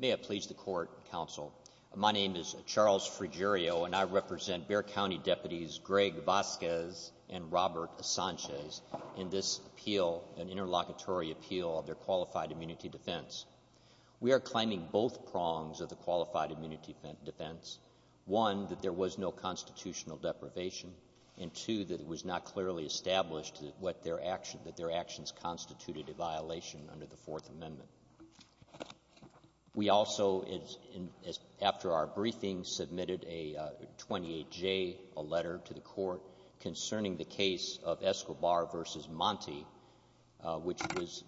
May I please the court, counsel? My name is Charles Frigerio, and I represent Bexar County Deputies Greg Vasquez and Robert Sanchez in this appeal, an interlocutory appeal of their Qualified Immunity Defense. We are claiming both prongs of the Qualified Immunity Defense. One, that there was no constitutional deprivation, and two, that it was not clearly established that their actions constituted a violation under the Fourth Amendment. We also, after our briefing, submitted a 28-J letter to the court concerning the case of Escobar v. Monty, which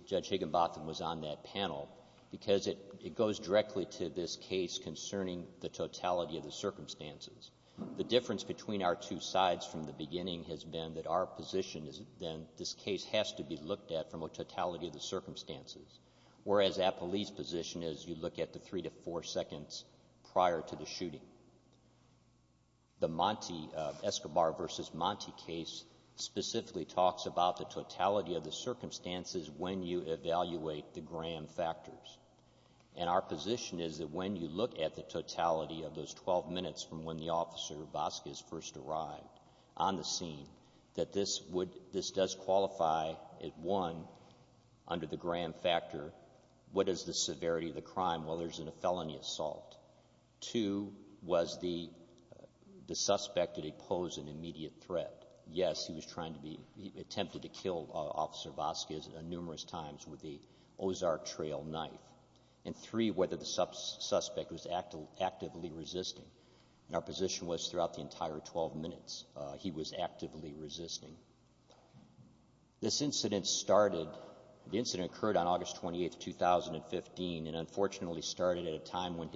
Judge Higginbotham was on that panel, because it goes directly to this case concerning the totality of the circumstances. The difference between our two sides from the beginning has been that our position is that this case has to be looked at from a totality of the circumstances, whereas Appellee's position is you look at the three to four seconds prior to the shooting. The Monty, Escobar v. Monty case specifically talks about the totality of the circumstances when you evaluate the Graham factors, and our position is that when you look at the totality of those 12 minutes from when the officer, Vasquez, first arrived on the scene, that this does qualify as, one, under the Graham factor, what is the severity of the crime, whether it's in a felony assault. Two, was the suspect, did he pose an immediate threat? Yes, he attempted to kill Officer Vasquez numerous times with the Ozark trail knife. And three, whether the suspect was actively resisting. And our position was throughout the entire 12 minutes, he was actively resisting. This incident started, the incident occurred on August 28, 2015, and unfortunately started at a time when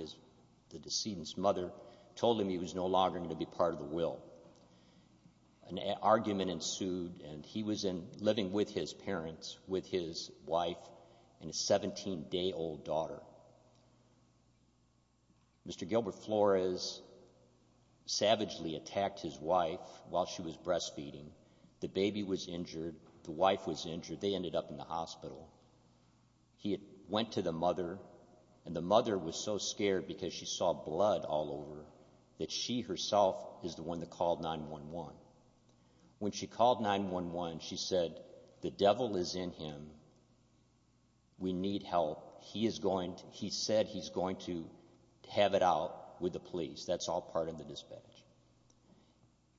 the decedent's mother told him he was no longer going to be part of the will. An argument ensued, and he was living with his parents, with his wife, and his 17-day-old daughter. Mr. Gilbert Flores savagely attacked his wife while she was breastfeeding. The baby was injured, the wife was injured, they ended up in the hospital. He went to the mother, and the mother was so scared because she saw blood all over that she herself is the one that called 911. When she called 911, she said, the devil is in him, we need help, he is going to, he said he's going to have it out with the police, that's all part of the dispatch.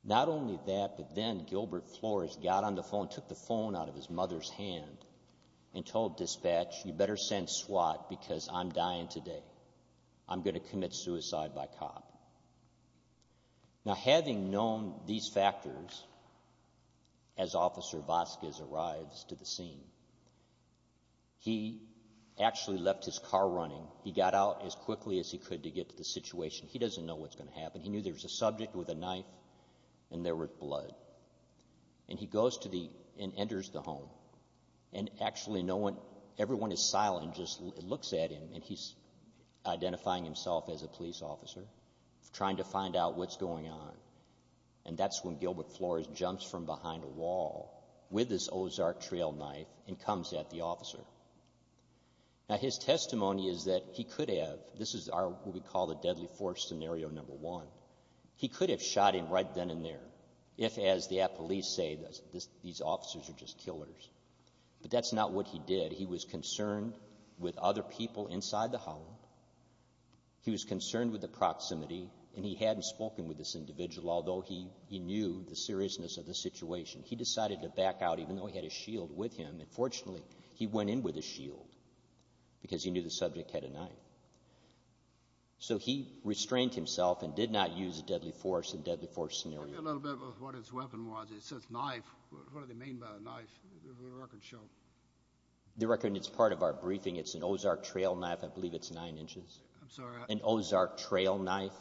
Not only that, but then Gilbert Flores got on the phone, took the phone out of his mother's hand, and told dispatch, you better send SWAT because I'm dying today. I'm going to die. Now having known these factors, as Officer Vasquez arrives to the scene, he actually left his car running, he got out as quickly as he could to get to the situation, he doesn't know what's going to happen, he knew there was a subject with a knife, and there was blood. And he goes to the, and enters the home, and actually no one, everyone is silent, just looks at him, and he's identifying himself as a police officer, trying to find out what's going on. And that's when Gilbert Flores jumps from behind a wall, with his Ozark trail knife, and comes at the officer. Now his testimony is that he could have, this is what we call the deadly force scenario number one, he could have shot him right then and there, if as the police say, these officers are just killers. But that's not what he did, he was concerned with other individuals, although he knew the seriousness of the situation. He decided to back out, even though he had a shield with him, and fortunately he went in with a shield, because he knew the subject had a knife. So he restrained himself and did not use a deadly force and deadly force scenario. Give me a little bit of what his weapon was, it says knife, what do they mean by a knife? The record show. The record, it's part of our briefing, it's an Ozark trail knife, I believe it's nine inches. I'm sorry. An Ozark trail knife,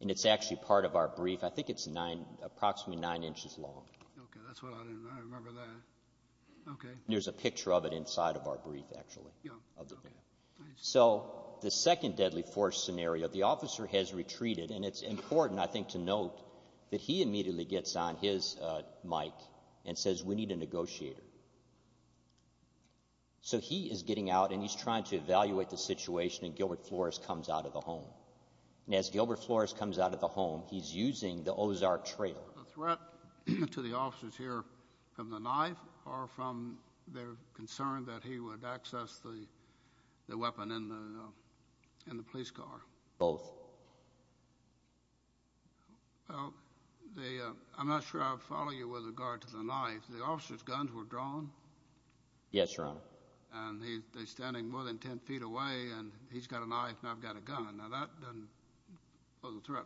and it's actually part of our brief, I think it's nine, approximately nine inches long. Okay, that's what I didn't, I remember that. Okay. There's a picture of it inside of our brief, actually. Yeah. So the second deadly force scenario, the officer has retreated, and it's important, I think, to note that he immediately gets on his mic and says, we need a negotiator. So he is getting out and he's trying to evaluate the situation, and Gilbert Flores comes out of the home. As Gilbert Flores comes out of the home, he's using the Ozark trail. The threat to the officers here from the knife or from their concern that he would access the weapon in the police car? Both. Well, I'm not sure I'll follow you with regard to the knife. The officer's guns were drawn? Yes, Your Honor. And he's standing more than 10 feet away, and he's got a knife, and I've got a gun. Now, that doesn't pose a threat.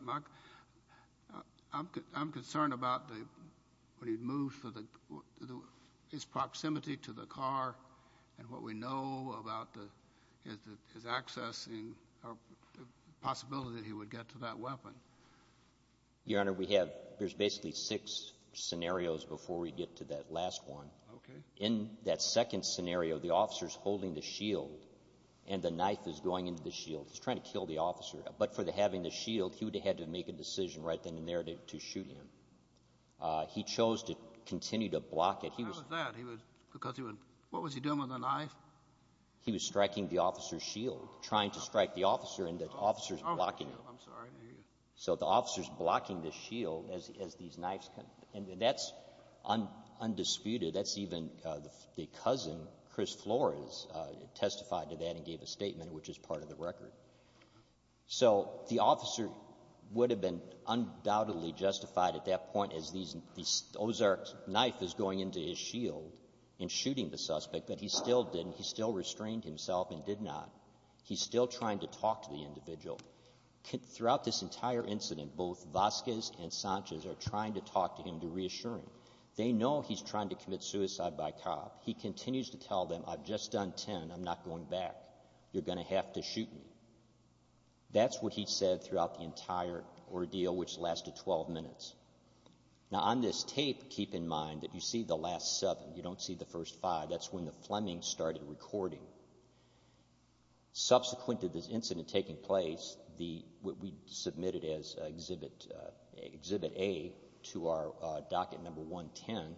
I'm concerned about when he moves, his proximity to the car, and what we know about his access, or the possibility that he would get to that weapon. Your Honor, we have, there's basically six scenarios before we get to that last one. Okay. In that second scenario, the officer's holding the shield, and the knife is going into the shield. He's trying to kill the officer, but for having the shield, he would have had to make a decision right then and there to shoot him. He chose to continue to block it. How was that? Because he was, what was he doing with the knife? He was striking the officer's shield, trying to strike the officer, and the officer's blocking him. I'm sorry, I didn't hear you. So the officer's blocking the shield as these knives come, and that's undisputed. That's even the cousin, Chris Flores, testified to that and gave a statement, which is part of the record. So the officer would have been undoubtedly justified at that point as Ozark's knife is going into his shield and shooting the suspect, but he still didn't, he still restrained himself and did not. He's still trying to talk to the individual. Throughout this entire incident, both Vasquez and Sanchez are trying to talk to him to reassure him. They know he's trying to commit suicide by cop. He continues to tell them, I've just done 10. I'm not going back. You're going to have to shoot me. That's what he said throughout the entire ordeal, which lasted 12 minutes. Now on this tape, keep in mind that you see the last seven. You don't see the first five. That's when the Fleming started recording. Subsequent to this incident taking place, what we submitted as exhibit A to our 110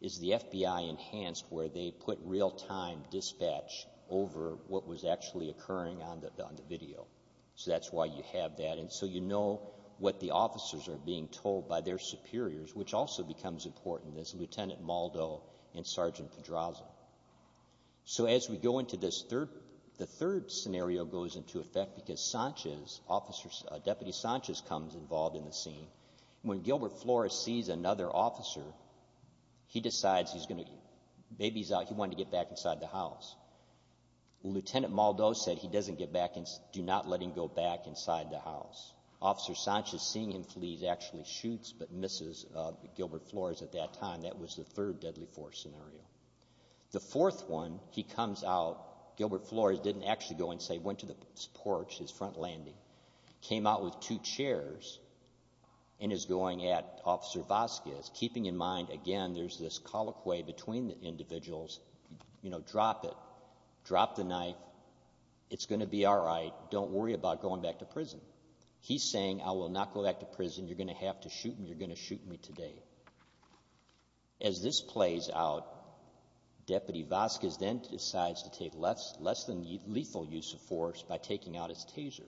is the FBI enhanced where they put real-time dispatch over what was actually occurring on the video. So that's why you have that. And so you know what the officers are being told by their superiors, which also becomes important as Lieutenant Maldo and Sergeant Pedraza. So as we go into this third, the third scenario goes into effect because Sanchez, officers, Deputy Sanchez comes involved in the scene. When Gilbert Flores sees another officer, he decides he's going to, baby's out, he wanted to get back inside the house. Lieutenant Maldo said he doesn't get back inside. Do not let him go back inside the house. Officer Sanchez, seeing him flee, actually shoots but misses Gilbert Flores at that time. That was the third deadly force scenario. The fourth one, he comes out, Gilbert Flores didn't actually go and say, went to the porch, his front landing, came out with two chairs and is going at Officer Vasquez, keeping in mind, again, there's this colloquy between the individuals, you know, drop it, drop the knife. It's going to be all right. Don't worry about going back to prison. He's saying I will not go back to prison. You're going to have to shoot me. You're going to shoot me today. As this plays out, Deputy Vasquez then decides to take less than lethal use of force by taking out his taser.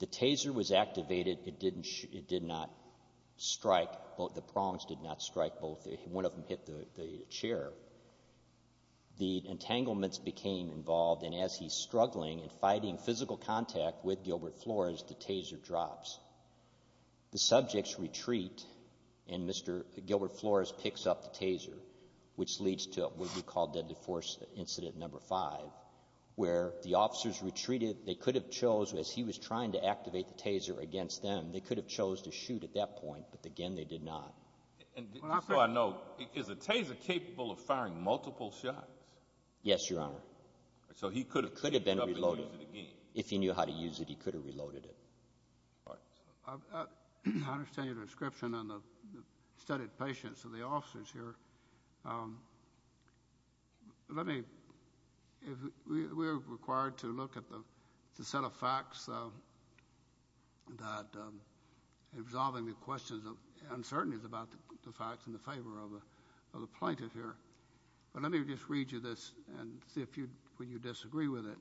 The taser was activated. It did not strike. The prongs did not strike. One of them hit the chair. The entanglements became involved and as he's struggling and fighting physical contact with Gilbert Flores, the taser drops. The subjects retreat and Mr. Gilbert Flores picks up the taser, which leads to what we call deadly force incident number five, where the officers retreated. They could have chose, as he was trying to activate the taser against them, they could have chose to shoot at that point, but again, they did not. And just so I know, is a taser capable of how to use it, he could have reloaded it. I understand your description and the studied patience of the officers here. We're required to look at the set of facts that resolving the questions of uncertainties about the facts in the favor of the plaintiff here, but let me just read you this and see if you disagree with it.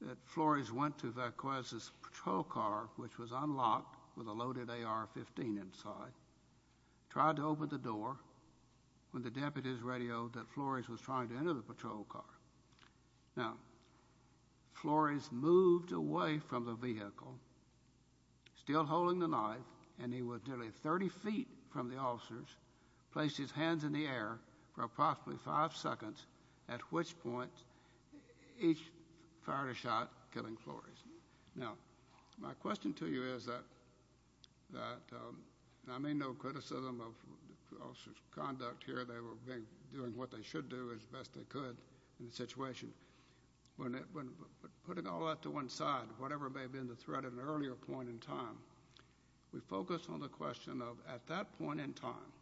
That Flores went to Verquez's patrol car, which was unlocked with a loaded AR-15 inside, tried to open the door when the deputies radioed that Flores was trying to enter the patrol car. Now, Flores moved away from the vehicle, still holding the knife, and he was nearly 30 feet from the officers, placed his hands in the air for approximately five seconds, at which point he fired a shot, killing Flores. Now, my question to you is that, and I may know criticism of officers' conduct here, they were doing what they should do as best they could in the situation. But putting all that to one side, whatever may have been the threat at an earlier point in time, we focus on the question of at that point in time,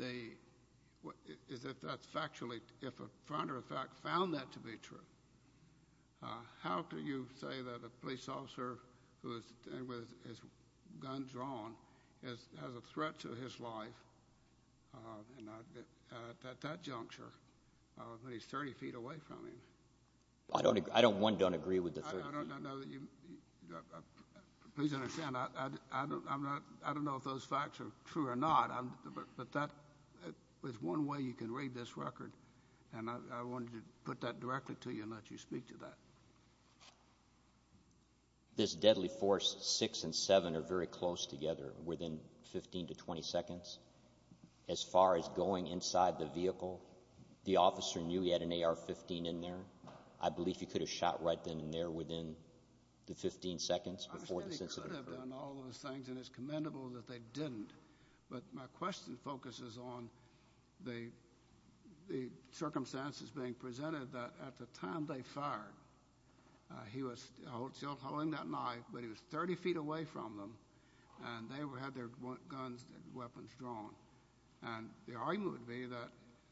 is if that's factually, if a front or a fact found that to be true, how can you say that a police officer who is with his gun drawn has a threat to his life at that juncture when he's 30 feet away from him? I don't, I don't, one, don't agree with the third. Please understand, I don't, I'm not, I don't know if those facts are true or not, but that is one way you can read this record, and I wanted to put that directly to you and let you speak to that. This deadly force six and seven are very close together within 15 to 20 seconds. As far as going inside the vehicle, the officer knew he had an AR-15 in there. I believe he could have shot right then and there within the 15 seconds before this incident occurred. I understand he could have done all those things, and it's commendable that they didn't. But my question focuses on the, the circumstances being presented that at the time they fired, he was still holding that knife, but he was 30 feet away from them, and they had their guns, weapons drawn, and the argument would be that,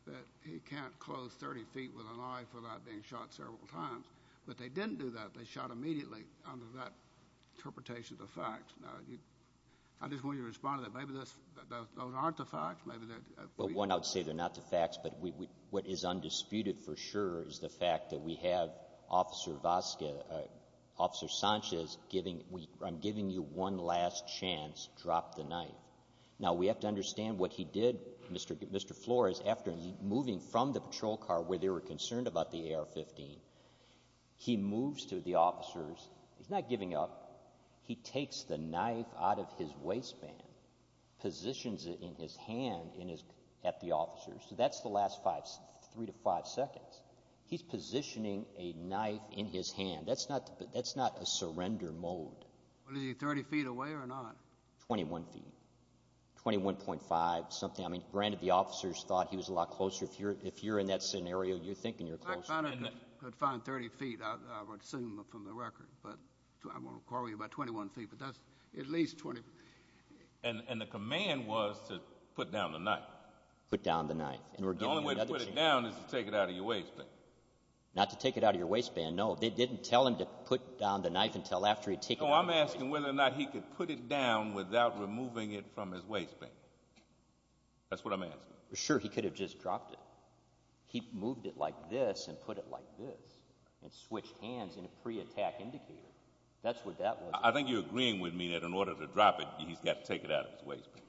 that he can't close 30 feet with an eye for that being shot several times, but they didn't do that. They shot immediately under that interpretation of the facts. Now, I just want you to respond to that. Maybe those, those aren't the facts, maybe they're... Well, one, I would say they're not the facts, but we, what is undisputed for sure is the fact that we have Officer Vasquez, Officer Sanchez giving, I'm giving you one last chance, drop the knife. Now, we have to understand what he did, Mr. Flores, after moving from the patrol car where they were concerned about the AR-15, he moves to the officers. He's not giving up. He takes the knife out of his waistband, positions it in his hand in his, at the officers. So that's the last five, three to five seconds. He's positioning a knife in his hand. That's not, that's not a surrender mode. Well, is he 30 feet away or not? 21 feet, 21.5, something. I mean, granted the officers thought he was a lot closer. If you're, if you're in that scenario, you're thinking you're closer. I could find 30 feet. I would assume from the record, but I'm going to call you about 21 feet, but that's at least 20. And, and the command was to put down the knife. Put down the knife. The only way to put it down is to take it out of your waistband. Not to take it out of your waistband. No, they didn't tell him to put down the knife until after he'd taken it out of his waistband. No, I'm asking whether or not he could put it down without removing it from his waistband. That's what I'm asking. Sure, he could have just dropped it. He moved it like this and put it like this and switched hands in a pre-attack indicator. That's what that was. I think you're agreeing with me that in order to drop it, he's got to take it out of his waistband.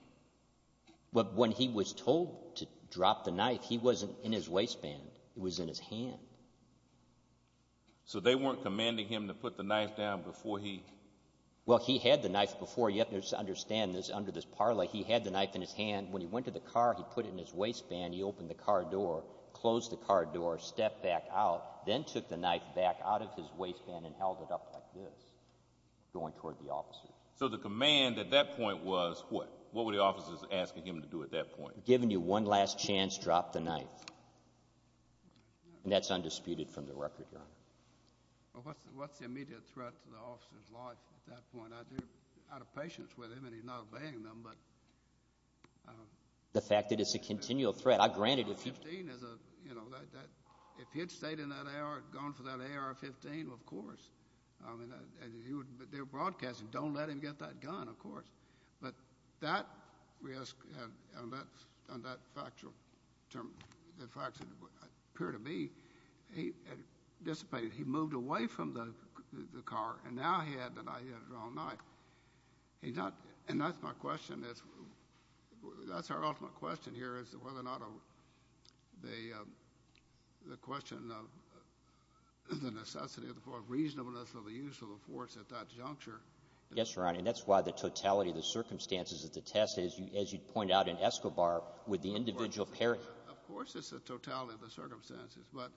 But when he was told to drop the knife, he wasn't in his waistband. It was in his hand. So they weren't commanding him to put the knife down before he... Well, he had the knife before. You have to understand this under this parlay. He had the knife in his hand. When he went to the car, he put it in his waistband. He opened the car door, closed the car door, stepped back out, then took the knife back out of his waistband and held it up like this, going toward the officers. So the command at that point was what? What were the officers asking him to do at that point? Given you one last chance, drop the knife. And that's undisputed from the record, Your Honor. Well, what's the immediate threat to the officer's life at that point? They're out of patience with him and he's not obeying them, but... The fact that it's a continual threat. AR-15 is a, you know, if he had stayed in that AR, gone for that AR-15, of course. They were broadcasting, don't let him get that gun, of course. But that, we ask, on that factual term, the facts appear to be, he dissipated. He moved away from the car and now he had the knife. He had the wrong knife. He's not, and that's my question, that's our ultimate question here, is whether or not the question of the necessity of the force, reasonableness of the use of the force at that juncture... Yes, Your Honor, and that's why the circumstances at the test, as you pointed out, in Escobar, with the individual parachute... Of course it's the totality of the circumstances, but...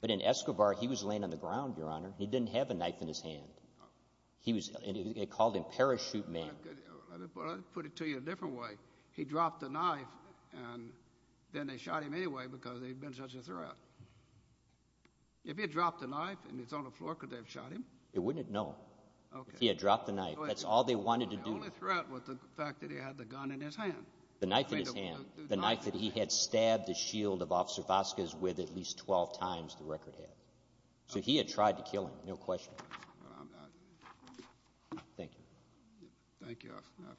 But in Escobar, he was laying on the ground, Your Honor. He didn't have a knife in his hand. He was, they called him Parachute Man. Well, I'll put it to you a different way. He dropped the knife and then they shot him anyway because he'd been such a threat. If he had dropped the knife and it's on the floor, could they have shot him? They wouldn't have, no. If he had dropped the knife, that's all they wanted to do. The only threat was the fact that he had the gun in his hand. The knife in his hand, the knife that he had stabbed the shield of Officer Vazquez with at least 12 times, the record has. So he had tried to kill him, no question. Thank you. Thank you, Your Honor.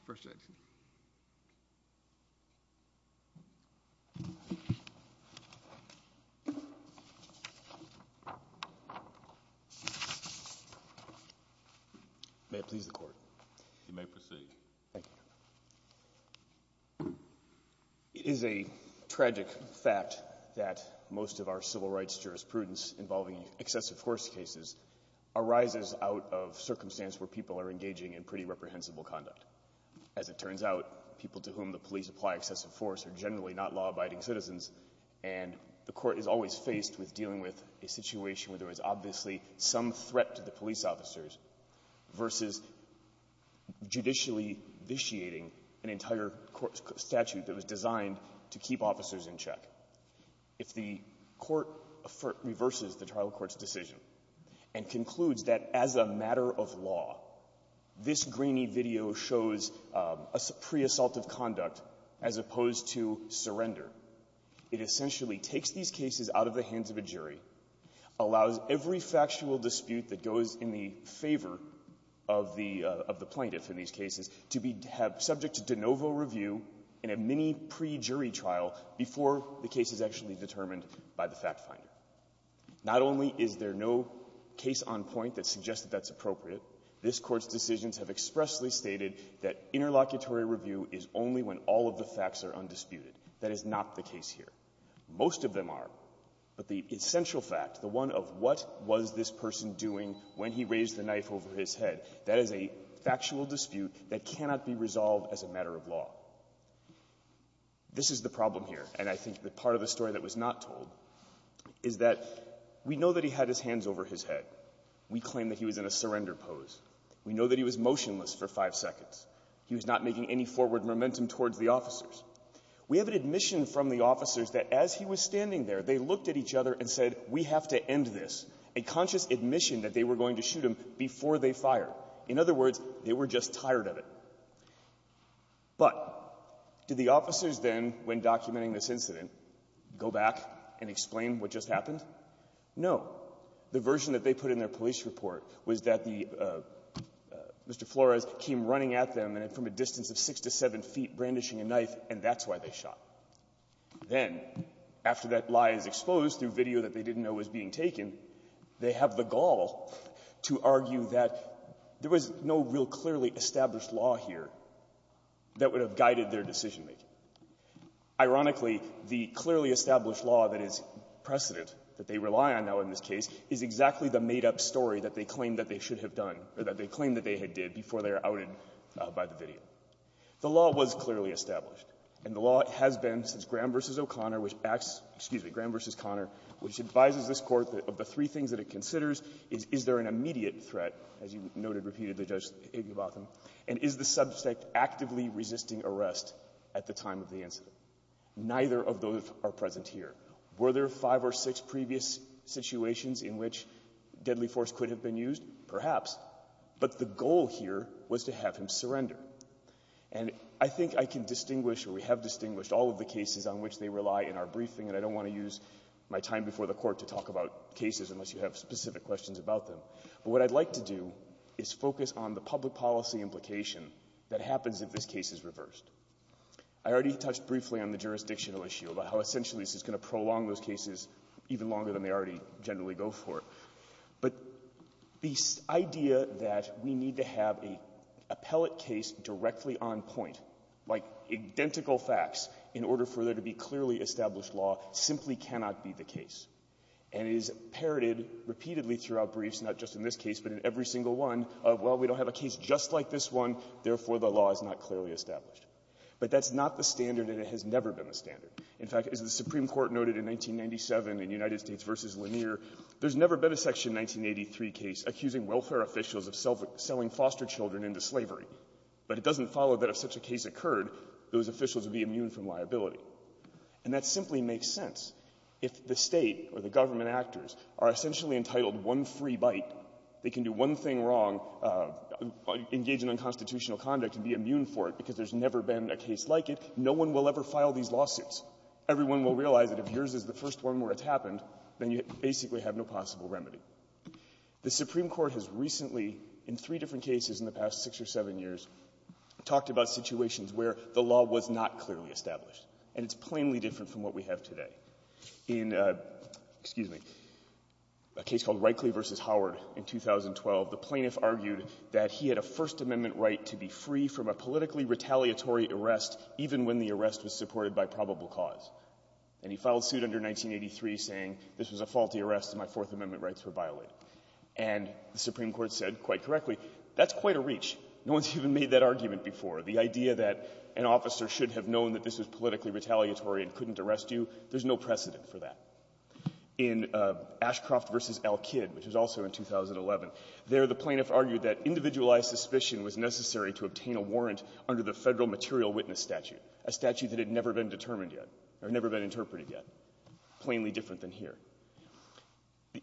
You may proceed. Thank you. It is a tragic fact that most of our civil rights jurisprudence involving excessive force cases arises out of circumstances where people are engaging in pretty reprehensible conduct. As it turns out, people to whom the police apply excessive force are generally not law-abiding citizens, and the Court is always faced with a situation where there was obviously some threat to the police officers versus judicially vitiating an entire court statute that was designed to keep officers in check. If the Court reverses the trial court's decision and concludes that as a matter of law, this grainy video shows a pre-assaultive conduct as opposed to surrender, it essentially takes these cases out of the hands of a jury and puts them in the hands of an interlocutory, allows every factual dispute that goes in the favor of the plaintiff in these cases to be subject to de novo review in a mini pre-jury trial before the case is actually determined by the fact-finder. Not only is there no case on point that suggests that that's appropriate, this Court's decisions have expressly stated that interlocutory review is only when all of the facts are undisputed. That is not the case here. Most of them are. But the essential fact, the one of what was this person doing when he raised the knife over his head, that is a factual dispute that cannot be resolved as a matter of law. This is the problem here, and I think that part of the story that was not told is that we know that he had his hands over his head. We claim that he was in a surrender pose. We know that he was motionless for five seconds. He was not making any forward momentum towards the officers. We have an admission from the officers that as he was standing there, they looked at each other and said, we have to end this, a conscious admission that they were going to shoot him before they fired. In other words, they were just tired of it. But did the officers then, when documenting this incident, go back and explain what just happened? No. The version that they put in their police report was that the Mr. Flores came running at them from a distance of six to seven feet, brandishing a knife, and that's why they shot. Then, after that lie is exposed through video that they didn't know was being taken, they have the gall to argue that there was no real clearly established law here that would have guided their decision-making. Ironically, the clearly established law that is precedent, that they rely on now in this case, is that the made-up story that they claim that they should have done, or that they claim that they had did before they were outed by the video. The law was clearly established, and the law has been since Graham v. O'Connor, which asks — excuse me, Graham v. O'Connor, which advises this Court that of the three things that it considers, is there an immediate threat, as you noted, repeated to Judge Igbebotom, and is the subject actively resisting arrest at the time of the incident? Neither of those are conditions in which deadly force could have been used, perhaps, but the goal here was to have him surrender. And I think I can distinguish, or we have distinguished, all of the cases on which they rely in our briefing, and I don't want to use my time before the Court to talk about cases unless you have specific questions about them. But what I'd like to do is focus on the public policy implication that happens if this case is reversed. I already touched briefly on the jurisdictional issue, about how essentially this is going to prolong those cases even longer than they already generally go for. But the idea that we need to have an appellate case directly on point, like identical facts, in order for there to be clearly established law, simply cannot be the case. And it is parroted repeatedly throughout briefs, not just in this case, but in every single one, of, well, we don't have a case just like this one, therefore the law is not clearly established. But that's not the standard, and it has to be. The Supreme Court noted in 1997 in United States v. Lanier, there's never been a Section 1983 case accusing welfare officials of selling foster children into slavery. But it doesn't follow that if such a case occurred, those officials would be immune from liability. And that simply makes sense. If the State or the government actors are essentially entitled one free bite, they can do one thing wrong, engage in unconstitutional conduct, and be immune for it because there's never been a case like it, no one will ever file these lawsuits. Everyone will realize that if yours is the first one where it's happened, then you basically have no possible remedy. The Supreme Court has recently, in three different cases in the past six or seven years, talked about situations where the law was not clearly established. And it's plainly different from what we have today. In, excuse me, a case called Reichle v. Howard in 2012, the plaintiff argued that he had a First Amendment right to be free from a politically retaliatory arrest even when the arrest was supported by probable cause. And he filed suit under 1983 saying this was a faulty arrest and my Fourth Amendment rights were violated. And the Supreme Court said quite correctly, that's quite a reach. No one's even made that argument before. The idea that an officer should have known that this was politically retaliatory and couldn't arrest you, there's no precedent for that. In Ashcroft v. L. Kidd, which was also in 2011, there the plaintiff argued that individualized suspicion was necessary to obtain a warrant under the Federal Material Witness Statute, a statute that had never been determined yet or never been interpreted yet. Plainly different than here.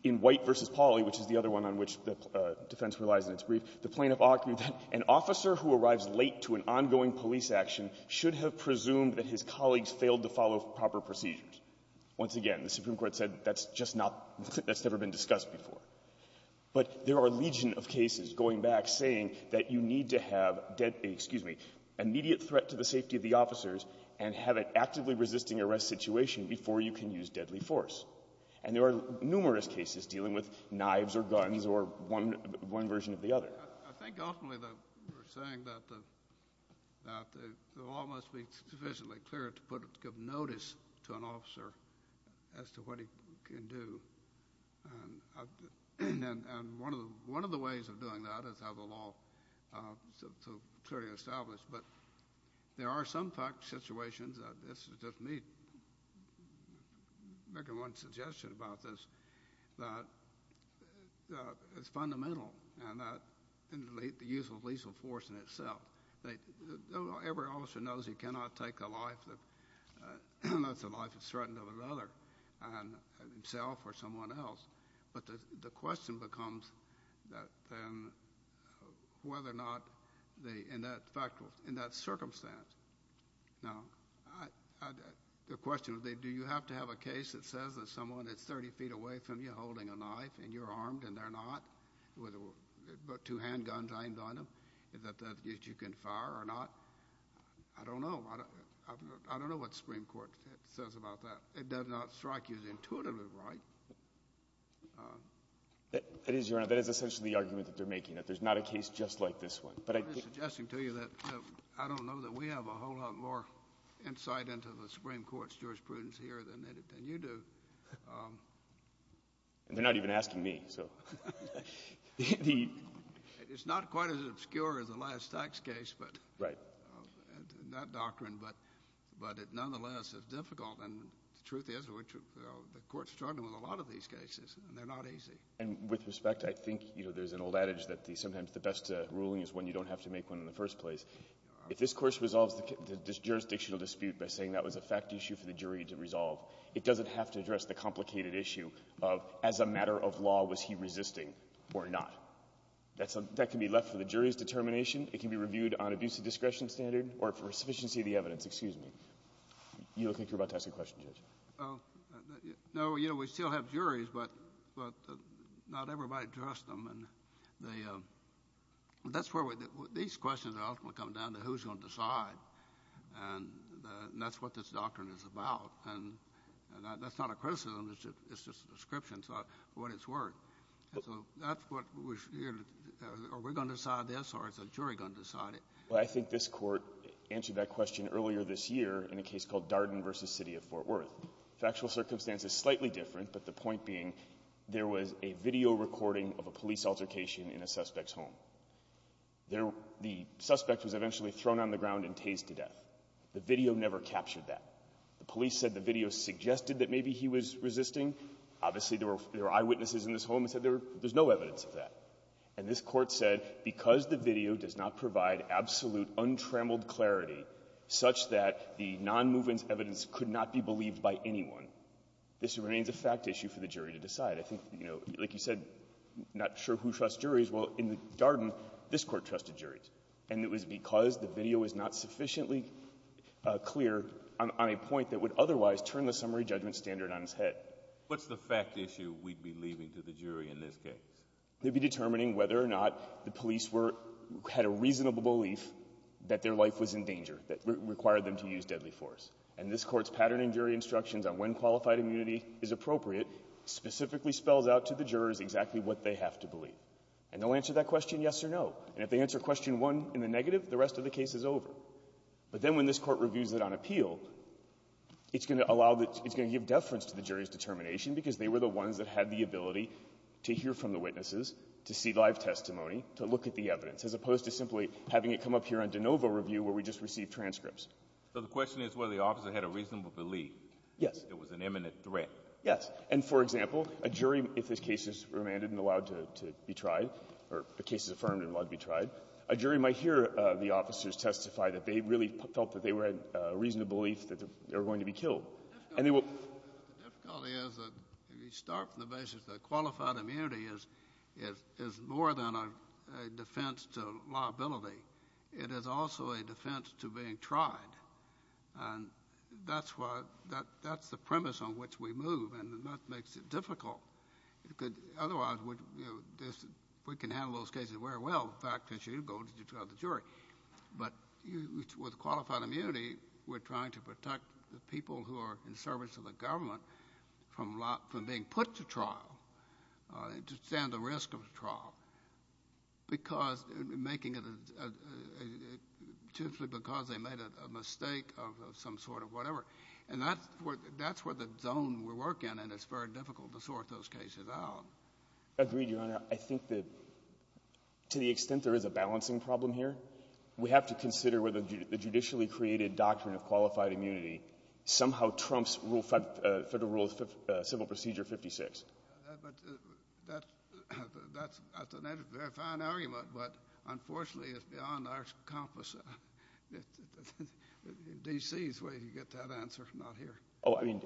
In White v. Pauley, which is the other one on which the defense relies in its brief, the plaintiff argued that an officer who arrives late to an ongoing police action should have presumed that his colleagues failed to follow proper procedures. Once again, the Supreme Court said that's just not — that's never been discussed before. But there are a legion of cases going back saying that you need to have a dead — excuse me — immediate threat to the safety of the officers and have an actively resisting arrest situation before you can use deadly force. And there are numerous cases dealing with knives or guns or one — one version of the other. I think ultimately that we're saying that the law must be sufficiently clear to put — to give notice to an officer as to what he can do. And one of the ways of doing that is to have the law clearly established. But there are some situations that — this is just me making one suggestion about this — that it's fundamental in the use of lethal force in itself. Every officer knows he cannot take a life that's a life that's threatened of another, himself or someone else. But the question becomes then whether or not the — in that fact — in that circumstance. Now, I — the question is, do you have to have a case that says that someone is 30 feet away from you holding a knife and you're armed and they're not, with two handguns aimed on them, that you can fire or not? I don't know. I don't know what the Supreme Court says about that. It does not strike you as intuitively right. That is, Your Honor, that is essentially the argument that they're making, that there's not a case just like this one. But I — I'm just suggesting to you that I don't know that we have a whole lot more insight into the Supreme Court's jurisprudence here than you do. And they're not even asking me, so — It's not quite as obscure as the last tax case, but — Right. — in that doctrine. But nonetheless, it's difficult. And the truth is, the Court's struggling with a lot of these cases, and they're not easy. And with respect, I think, you know, there's an old adage that sometimes the best ruling is when you don't have to make one in the first place. If this Court resolves the jurisdictional dispute by saying that was a fact issue for the jury to resolve, it doesn't have to address the complicated issue of, as a matter of law, was he resisting or not? That can be left for the jury's determination. It can be reviewed on abuse of discretion standard or for sufficiency of the evidence. Excuse me. You look like you're about to ask a question, Judge. No. You know, we still have juries, but not everybody trusts them. And they — that's where we — these questions ultimately come down to who's going to decide. And that's what this doctrine is about. And that's not a criticism. It's just a description of what it's worth. And so that's what we're — are we going to decide this, or is the jury going to decide it? Well, I think this Court answered that question earlier this year in a case called Darden v. City of Fort Worth. The actual circumstance is slightly different, but the point being there was a video recording of a police altercation in a suspect's home. The suspect was eventually thrown on the ground and tased to death. The video never captured that. The police said the video suggested that maybe he was resisting. Obviously, there were eyewitnesses in this home that said there's no evidence of that. And this Court said because the video does not provide absolute, untrammeled clarity such that the non-movement evidence could not be believed by anyone, this remains a fact issue for the jury to decide. I think, you know, like you said, not sure who trusts juries. Well, in the Darden, this Court trusted juries. And it was because the video was not sufficiently clear on a point that would otherwise turn the summary judgment standard on its head. What's the fact issue we'd be leaving to the jury in this case? They'd be determining whether or not the police were — had a reasonable belief that their life was in danger that required them to use deadly force. And this Court's pattern in jury instructions on when qualified immunity is appropriate specifically spells out to the jurors exactly what they have to believe. And they'll answer that question yes or no. And if they answer question one in the negative, the rest of the case is over. But then when this Court reviews it on appeal, it's going to allow the — it's going to give deference to the jury's determination because they were the ones that had the ability to hear from the witnesses, to see live testimony, to look at the evidence, as opposed to simply having it come up here on de novo review where we just received transcripts. So the question is whether the officer had a reasonable belief. Yes. It was an imminent threat. Yes. And, for example, a jury, if this case is remanded and allowed to be tried, or the case is confirmed and allowed to be tried, a jury might hear the officers testify that they really felt that they had a reasonable belief that they were going to be killed. The difficulty is that if you start from the basis that qualified immunity is more than a defense to liability, it is also a defense to being tried. And that's why — that's the premise on which we move. And that makes it difficult. Otherwise, we can handle those cases very well, in fact, since you go to trial the jury. But with qualified immunity, we're trying to protect the people who are in service to the government from being put to trial, to stand the risk of trial, because — making it — simply because they made a mistake of some sort of whatever. And that's where — that's where the zone we're working, and it's very difficult to sort those cases out. Agreed, Your Honor. I think that, to the extent there is a balancing problem here, we have to consider whether the judicially created doctrine of qualified immunity somehow trumps Rule 5 — Federal Rule of Civil Procedure 56. But that's — that's a very fine argument, but unfortunately, it's beyond our compass. D.C. is where you get that answer, not here. Oh, I mean,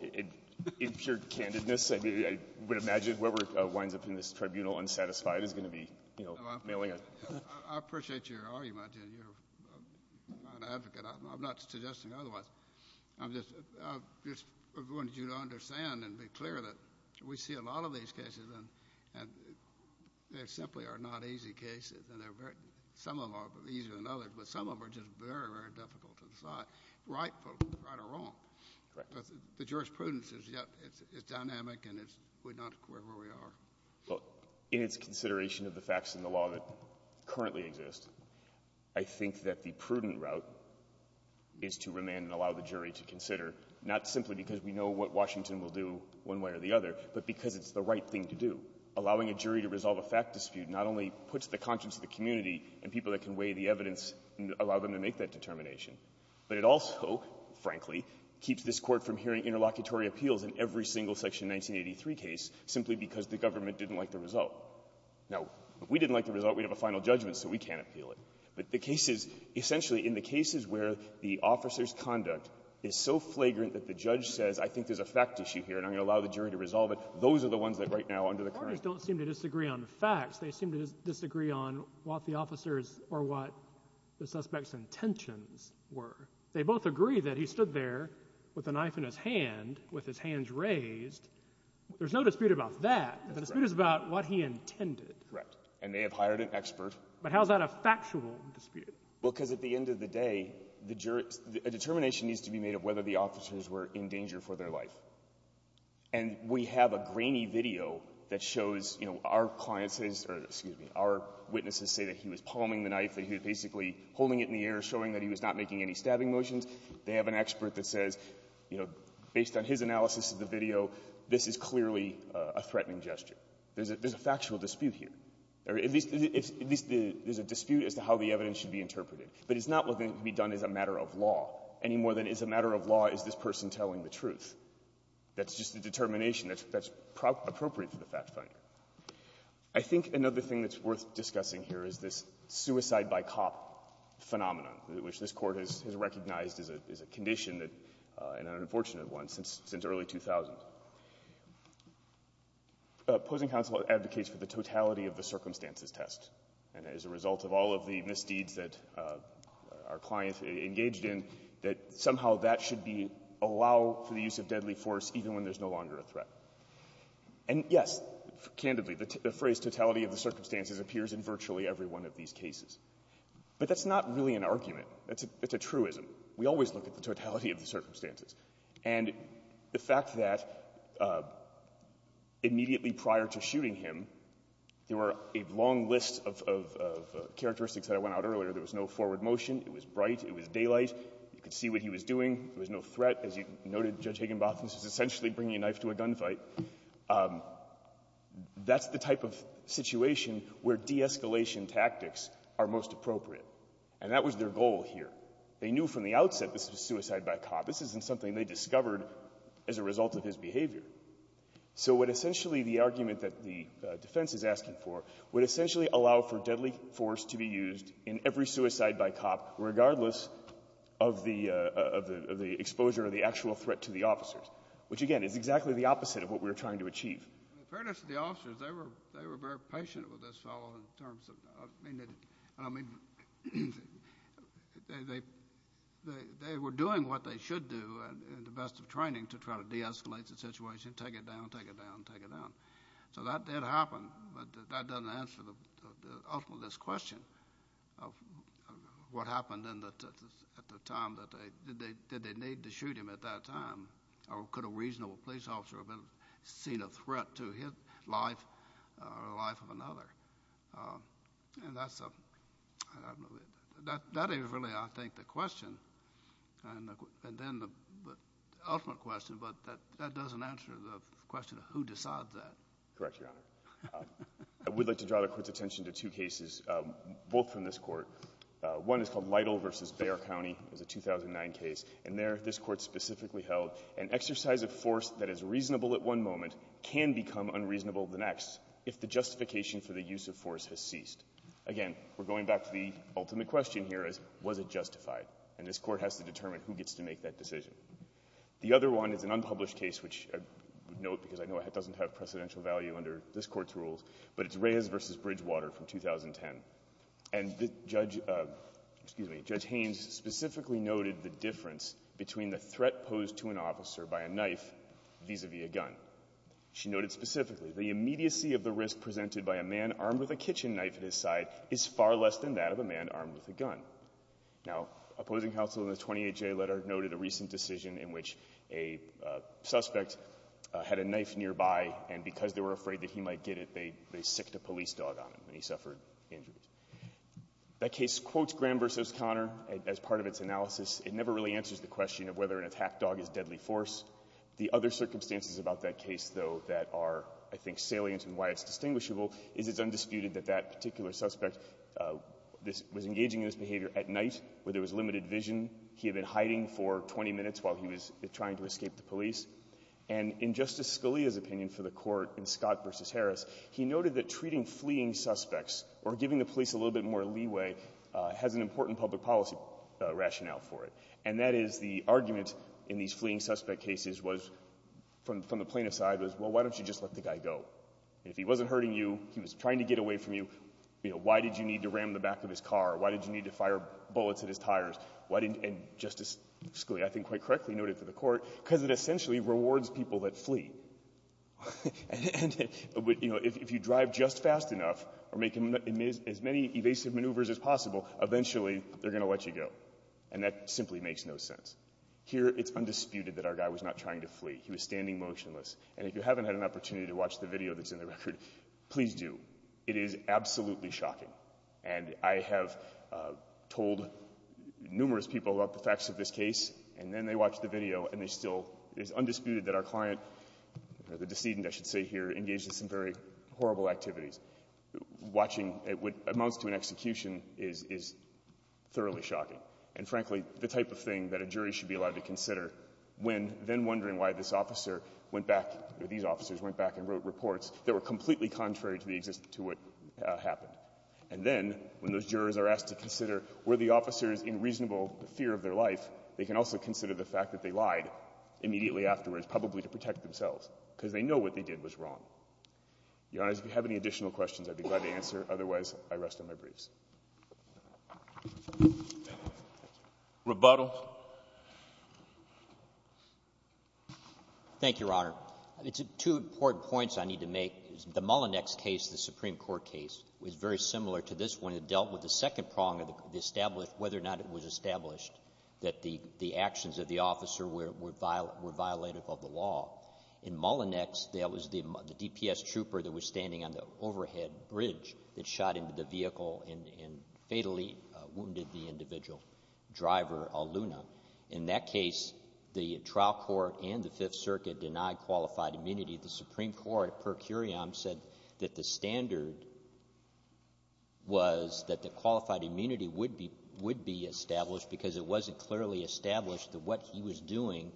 in pure candidness, I mean, I would imagine whoever winds up in this tribunal unsatisfied is going to be, you know, mailing a — I appreciate your argument, and you're an advocate. I'm not suggesting otherwise. I'm just — I just wanted you to understand and be clear that we see a lot of these cases, and they simply are not easy cases, and they're very — some of them are easier than others, but some of them are just very, very difficult to decide right or wrong. Correct. But the jurisprudence is dynamic, and it's — we're not where we are. Well, in its consideration of the facts in the law that currently exist, I think that the prudent route is to remand and allow the jury to consider, not simply because we know what Washington will do one way or the other, but because it's the right thing to do. Allowing a jury to resolve a fact dispute not only puts the conscience of the community and people that can weigh the evidence and allow them to make that determination, but it also, frankly, keeps this Court from hearing interlocutory appeals in every single Section 1983 case simply because the government didn't like the result. Now, if we didn't like the result, we'd have a final judgment, so we can't appeal it. But the cases — essentially, in the cases where the officer's conduct is so flagrant that the judge says, I think there's a fact issue here, and I'm going to allow the jury to resolve it, those are the ones that right now under the current — In fact, they seem to disagree on what the officer's or what the suspect's intentions were. They both agree that he stood there with a knife in his hand, with his hands raised. There's no dispute about that. That's correct. The dispute is about what he intended. Correct. And they have hired an expert. But how is that a factual dispute? Because at the end of the day, a determination needs to be made of whether the officers were in danger for their life. And we have a grainy video that shows, you know, our clients' — or, excuse me, our witnesses say that he was palming the knife, that he was basically holding it in the air, showing that he was not making any stabbing motions. They have an expert that says, you know, based on his analysis of the video, this is clearly a threatening gesture. There's a factual dispute here. Or at least — at least there's a dispute as to how the evidence should be interpreted. But it's not going to be done as a matter of law, any more than as a matter of law is this person telling the truth. That's just the determination that's appropriate for the fact finder. I think another thing that's worth discussing here is this suicide-by-cop phenomenon, which this Court has recognized as a condition that — an unfortunate one — since early 2000. Opposing counsel advocates for the totality of the circumstances test. And as a result of all of the misdeeds that our clients engaged in, that somehow that should be — allow for the use of deadly force even when there's no longer a threat. And, yes, candidly, the phrase totality of the circumstances appears in virtually every one of these cases. But that's not really an argument. It's a — it's a truism. We always look at the totality of the circumstances. And the fact that immediately prior to shooting him, there were a long list of — of characteristics that I went out earlier. There was no forward motion. It was bright. It was daylight. You could see what he was doing. There was no threat. As you noted, Judge Higginbotham, this is essentially bringing a knife to a gunfight. That's the type of situation where de-escalation tactics are most appropriate. And that was their goal here. They knew from the outset this was suicide-by-cop. This isn't something they discovered as a result of his behavior. So what essentially the argument that the defense is asking for would essentially allow for deadly force to be used in every suicide-by-cop regardless of the — of the exposure or the actual threat to the officers, which, again, is exactly the opposite of what we were trying to achieve. In fairness to the officers, they were — they were very patient with this fellow in terms of — I mean, they — they were doing what they should do in the best of training to try to de-escalate the situation, take it down, take it down, take it down. So that did happen, but that doesn't answer the — the ultimate question of what happened in the — at the time that they — did they need to shoot him at that time, or could a reasonable police officer have been — seen a threat to his life or the life of another? And that's a — that is really, I think, the question, and then the ultimate question, but that — that doesn't answer the question of who decides that. Correct, Your Honor. I would like to draw the Court's attention to two cases, both from this Court. One is called Lytle v. Bayer County. It was a 2009 case. And there, this Court specifically held an exercise of force that is reasonable at one moment can become unreasonable the next if the justification for the use of force has ceased. Again, we're going back to the ultimate question here is, was it justified? And this Court has to determine who gets to make that decision. The other one is an unpublished case, which I would note because I know it doesn't have precedential value under this Court's rules, but it's Reyes v. Bridgewater from 2010. And the judge — excuse me — Judge Haynes specifically noted the difference between the threat posed to an officer by a knife vis-à-vis a gun. She noted specifically, the immediacy of the risk presented by a man armed with a kitchen knife at his side is far less than that of a man armed with a gun. Now, opposing counsel in the 28-J letter noted a recent decision in which a suspect had a knife nearby, and because they were afraid that he might get it, they sicced a police dog on him, and he suffered injuries. That case quotes Graham v. Connor as part of its analysis. It never really answers the question of whether an attack dog is deadly force. The other circumstances about that case, though, that are, I think, salient in why it's distinguishable is it's undisputed that that particular suspect was engaging in this behavior at night, where there was limited vision. He had been hiding for 20 minutes while he was trying to escape the police. And in Justice Scalia's opinion for the Court in Scott v. Harris, he noted that treating fleeing suspects or giving the police a little bit more leeway has an important public policy rationale for it. And that is the argument in these fleeing suspect cases was — from the plaintiff's side was, well, why don't you just let the guy go? If he wasn't hurting you, he was trying to get away from you, you know, why did you need to ram the back of his car? Why did you need to fire bullets at his tires? Why didn't — and Justice Scalia, I think, quite correctly noted for the Court, because it essentially rewards people that flee. And, you know, if you drive just fast enough or make as many evasive maneuvers as possible, eventually they're going to let you go. And that simply makes no sense. Here it's undisputed that our guy was not trying to flee. He was standing motionless. And if you haven't had an opportunity to watch the video that's in the record, please do. It is absolutely shocking. And I have told numerous people about the facts of this case, and then they watch the video, and they still — it is undisputed that our client, or the decedent, I should say here, engaged in some very horrible activities. Watching what amounts to an execution is thoroughly shocking. And frankly, the type of thing that a jury should be allowed to consider when then wondering why this officer went back — or these officers went back and wrote reports that were completely contrary to what happened. And then, when those jurors are asked to consider were the officers in reasonable fear of their life, they can also consider the fact that they lied immediately afterwards, probably to protect themselves, because they know what they did was wrong. Your Honor, if you have any additional questions, I'd be glad to answer. Otherwise, I rest on my briefs. Thank you. Rebuttal. Thank you, Your Honor. Two important points I need to make. The Mullinex case, the Supreme Court case, was very similar to this one. It dealt with the second prong of the established — whether or not it was established that the actions of the officer were violative of the law. In Mullinex, that was the DPS trooper that was standing on the overhead bridge that shot In that case, the trial court and the Fifth Circuit denied qualified immunity. The Supreme Court, per curiam, said that the standard was that the qualified immunity would be — would be established because it wasn't clearly established that what he was doing,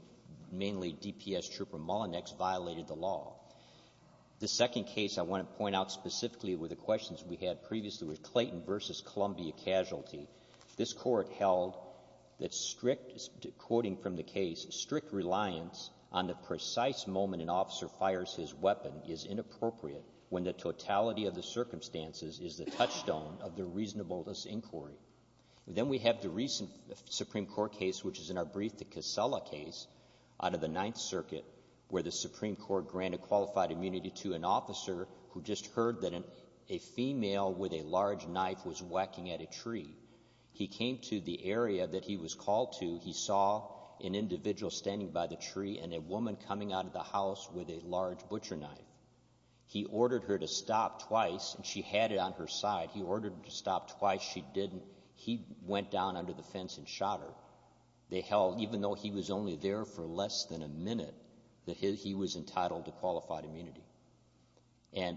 mainly DPS trooper Mullinex, violated the law. The second case I want to point out specifically with the questions we had previously was Clayton v. Columbia casualty. This court held that strict — quoting from the case, strict reliance on the precise moment an officer fires his weapon is inappropriate when the totality of the circumstances is the touchstone of the reasonableness inquiry. Then we have the recent Supreme Court case, which is, in our brief, the Casella case out of the Ninth Circuit, where the Supreme Court granted qualified immunity to an officer who just heard that a female with a large knife was whacking at a tree. He came to the area that he was called to. He saw an individual standing by the tree and a woman coming out of the house with a large butcher knife. He ordered her to stop twice, and she had it on her side. He ordered her to stop twice. She didn't. He went down under the fence and shot her. They held, even though he was only there for less than a minute, that he was entitled to qualified immunity. And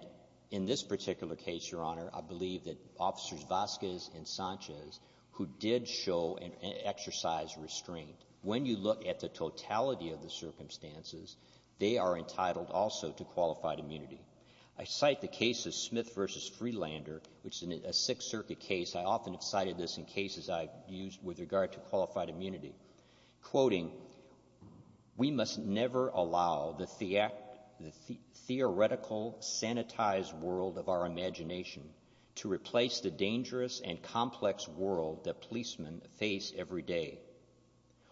in this particular case, Your Honor, I believe that Officers Vasquez and Sanchez, who did show an exercise restraint, when you look at the totality of the circumstances, they are entitled also to qualified immunity. I cite the case of Smith v. Freelander, which is a Sixth Circuit case. I often have cited this in cases I've used with regard to qualified immunity, quoting, We must never allow the theoretical, sanitized world of our imagination to replace the dangerous and complex world that policemen face every day.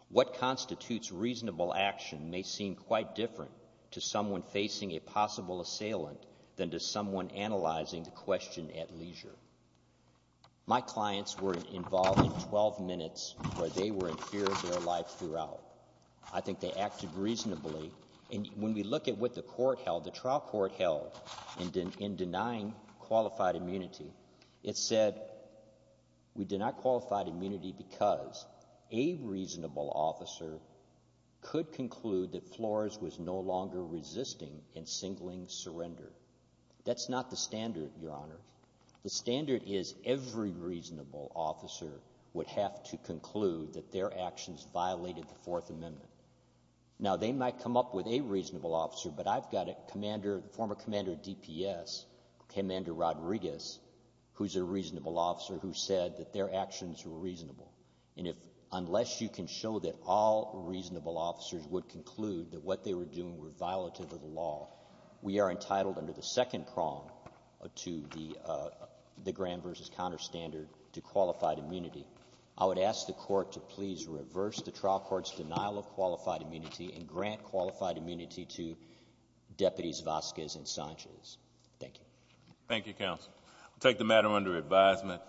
What constitutes reasonable action may seem quite different to someone facing a possible assailant than to someone analyzing the question at leisure. My clients were involved in 12 minutes where they were in fear of their life throughout. I think they acted reasonably. And when we look at what the trial court held in denying qualified immunity, it said, We deny qualified immunity because a reasonable officer could conclude that Flores was no longer resisting in singling surrender. That's not the standard, Your Honor. The standard is every reasonable officer would have to conclude that their actions violated the Fourth Amendment. Now, they might come up with a reasonable officer, but I've got a former commander of DPS, Commander Rodriguez, who's a reasonable officer, who said that their actions were reasonable. And unless you can show that all reasonable officers would conclude that what they were doing were violative of the law, we are entitled under the second prong to the Graham v. Conner standard to qualified immunity. I would ask the court to please reverse the trial court's denial of qualified immunity and grant qualified immunity to Deputies Vasquez and Sanchez. Thank you. Thank you, counsel. We'll take the matter under advisement.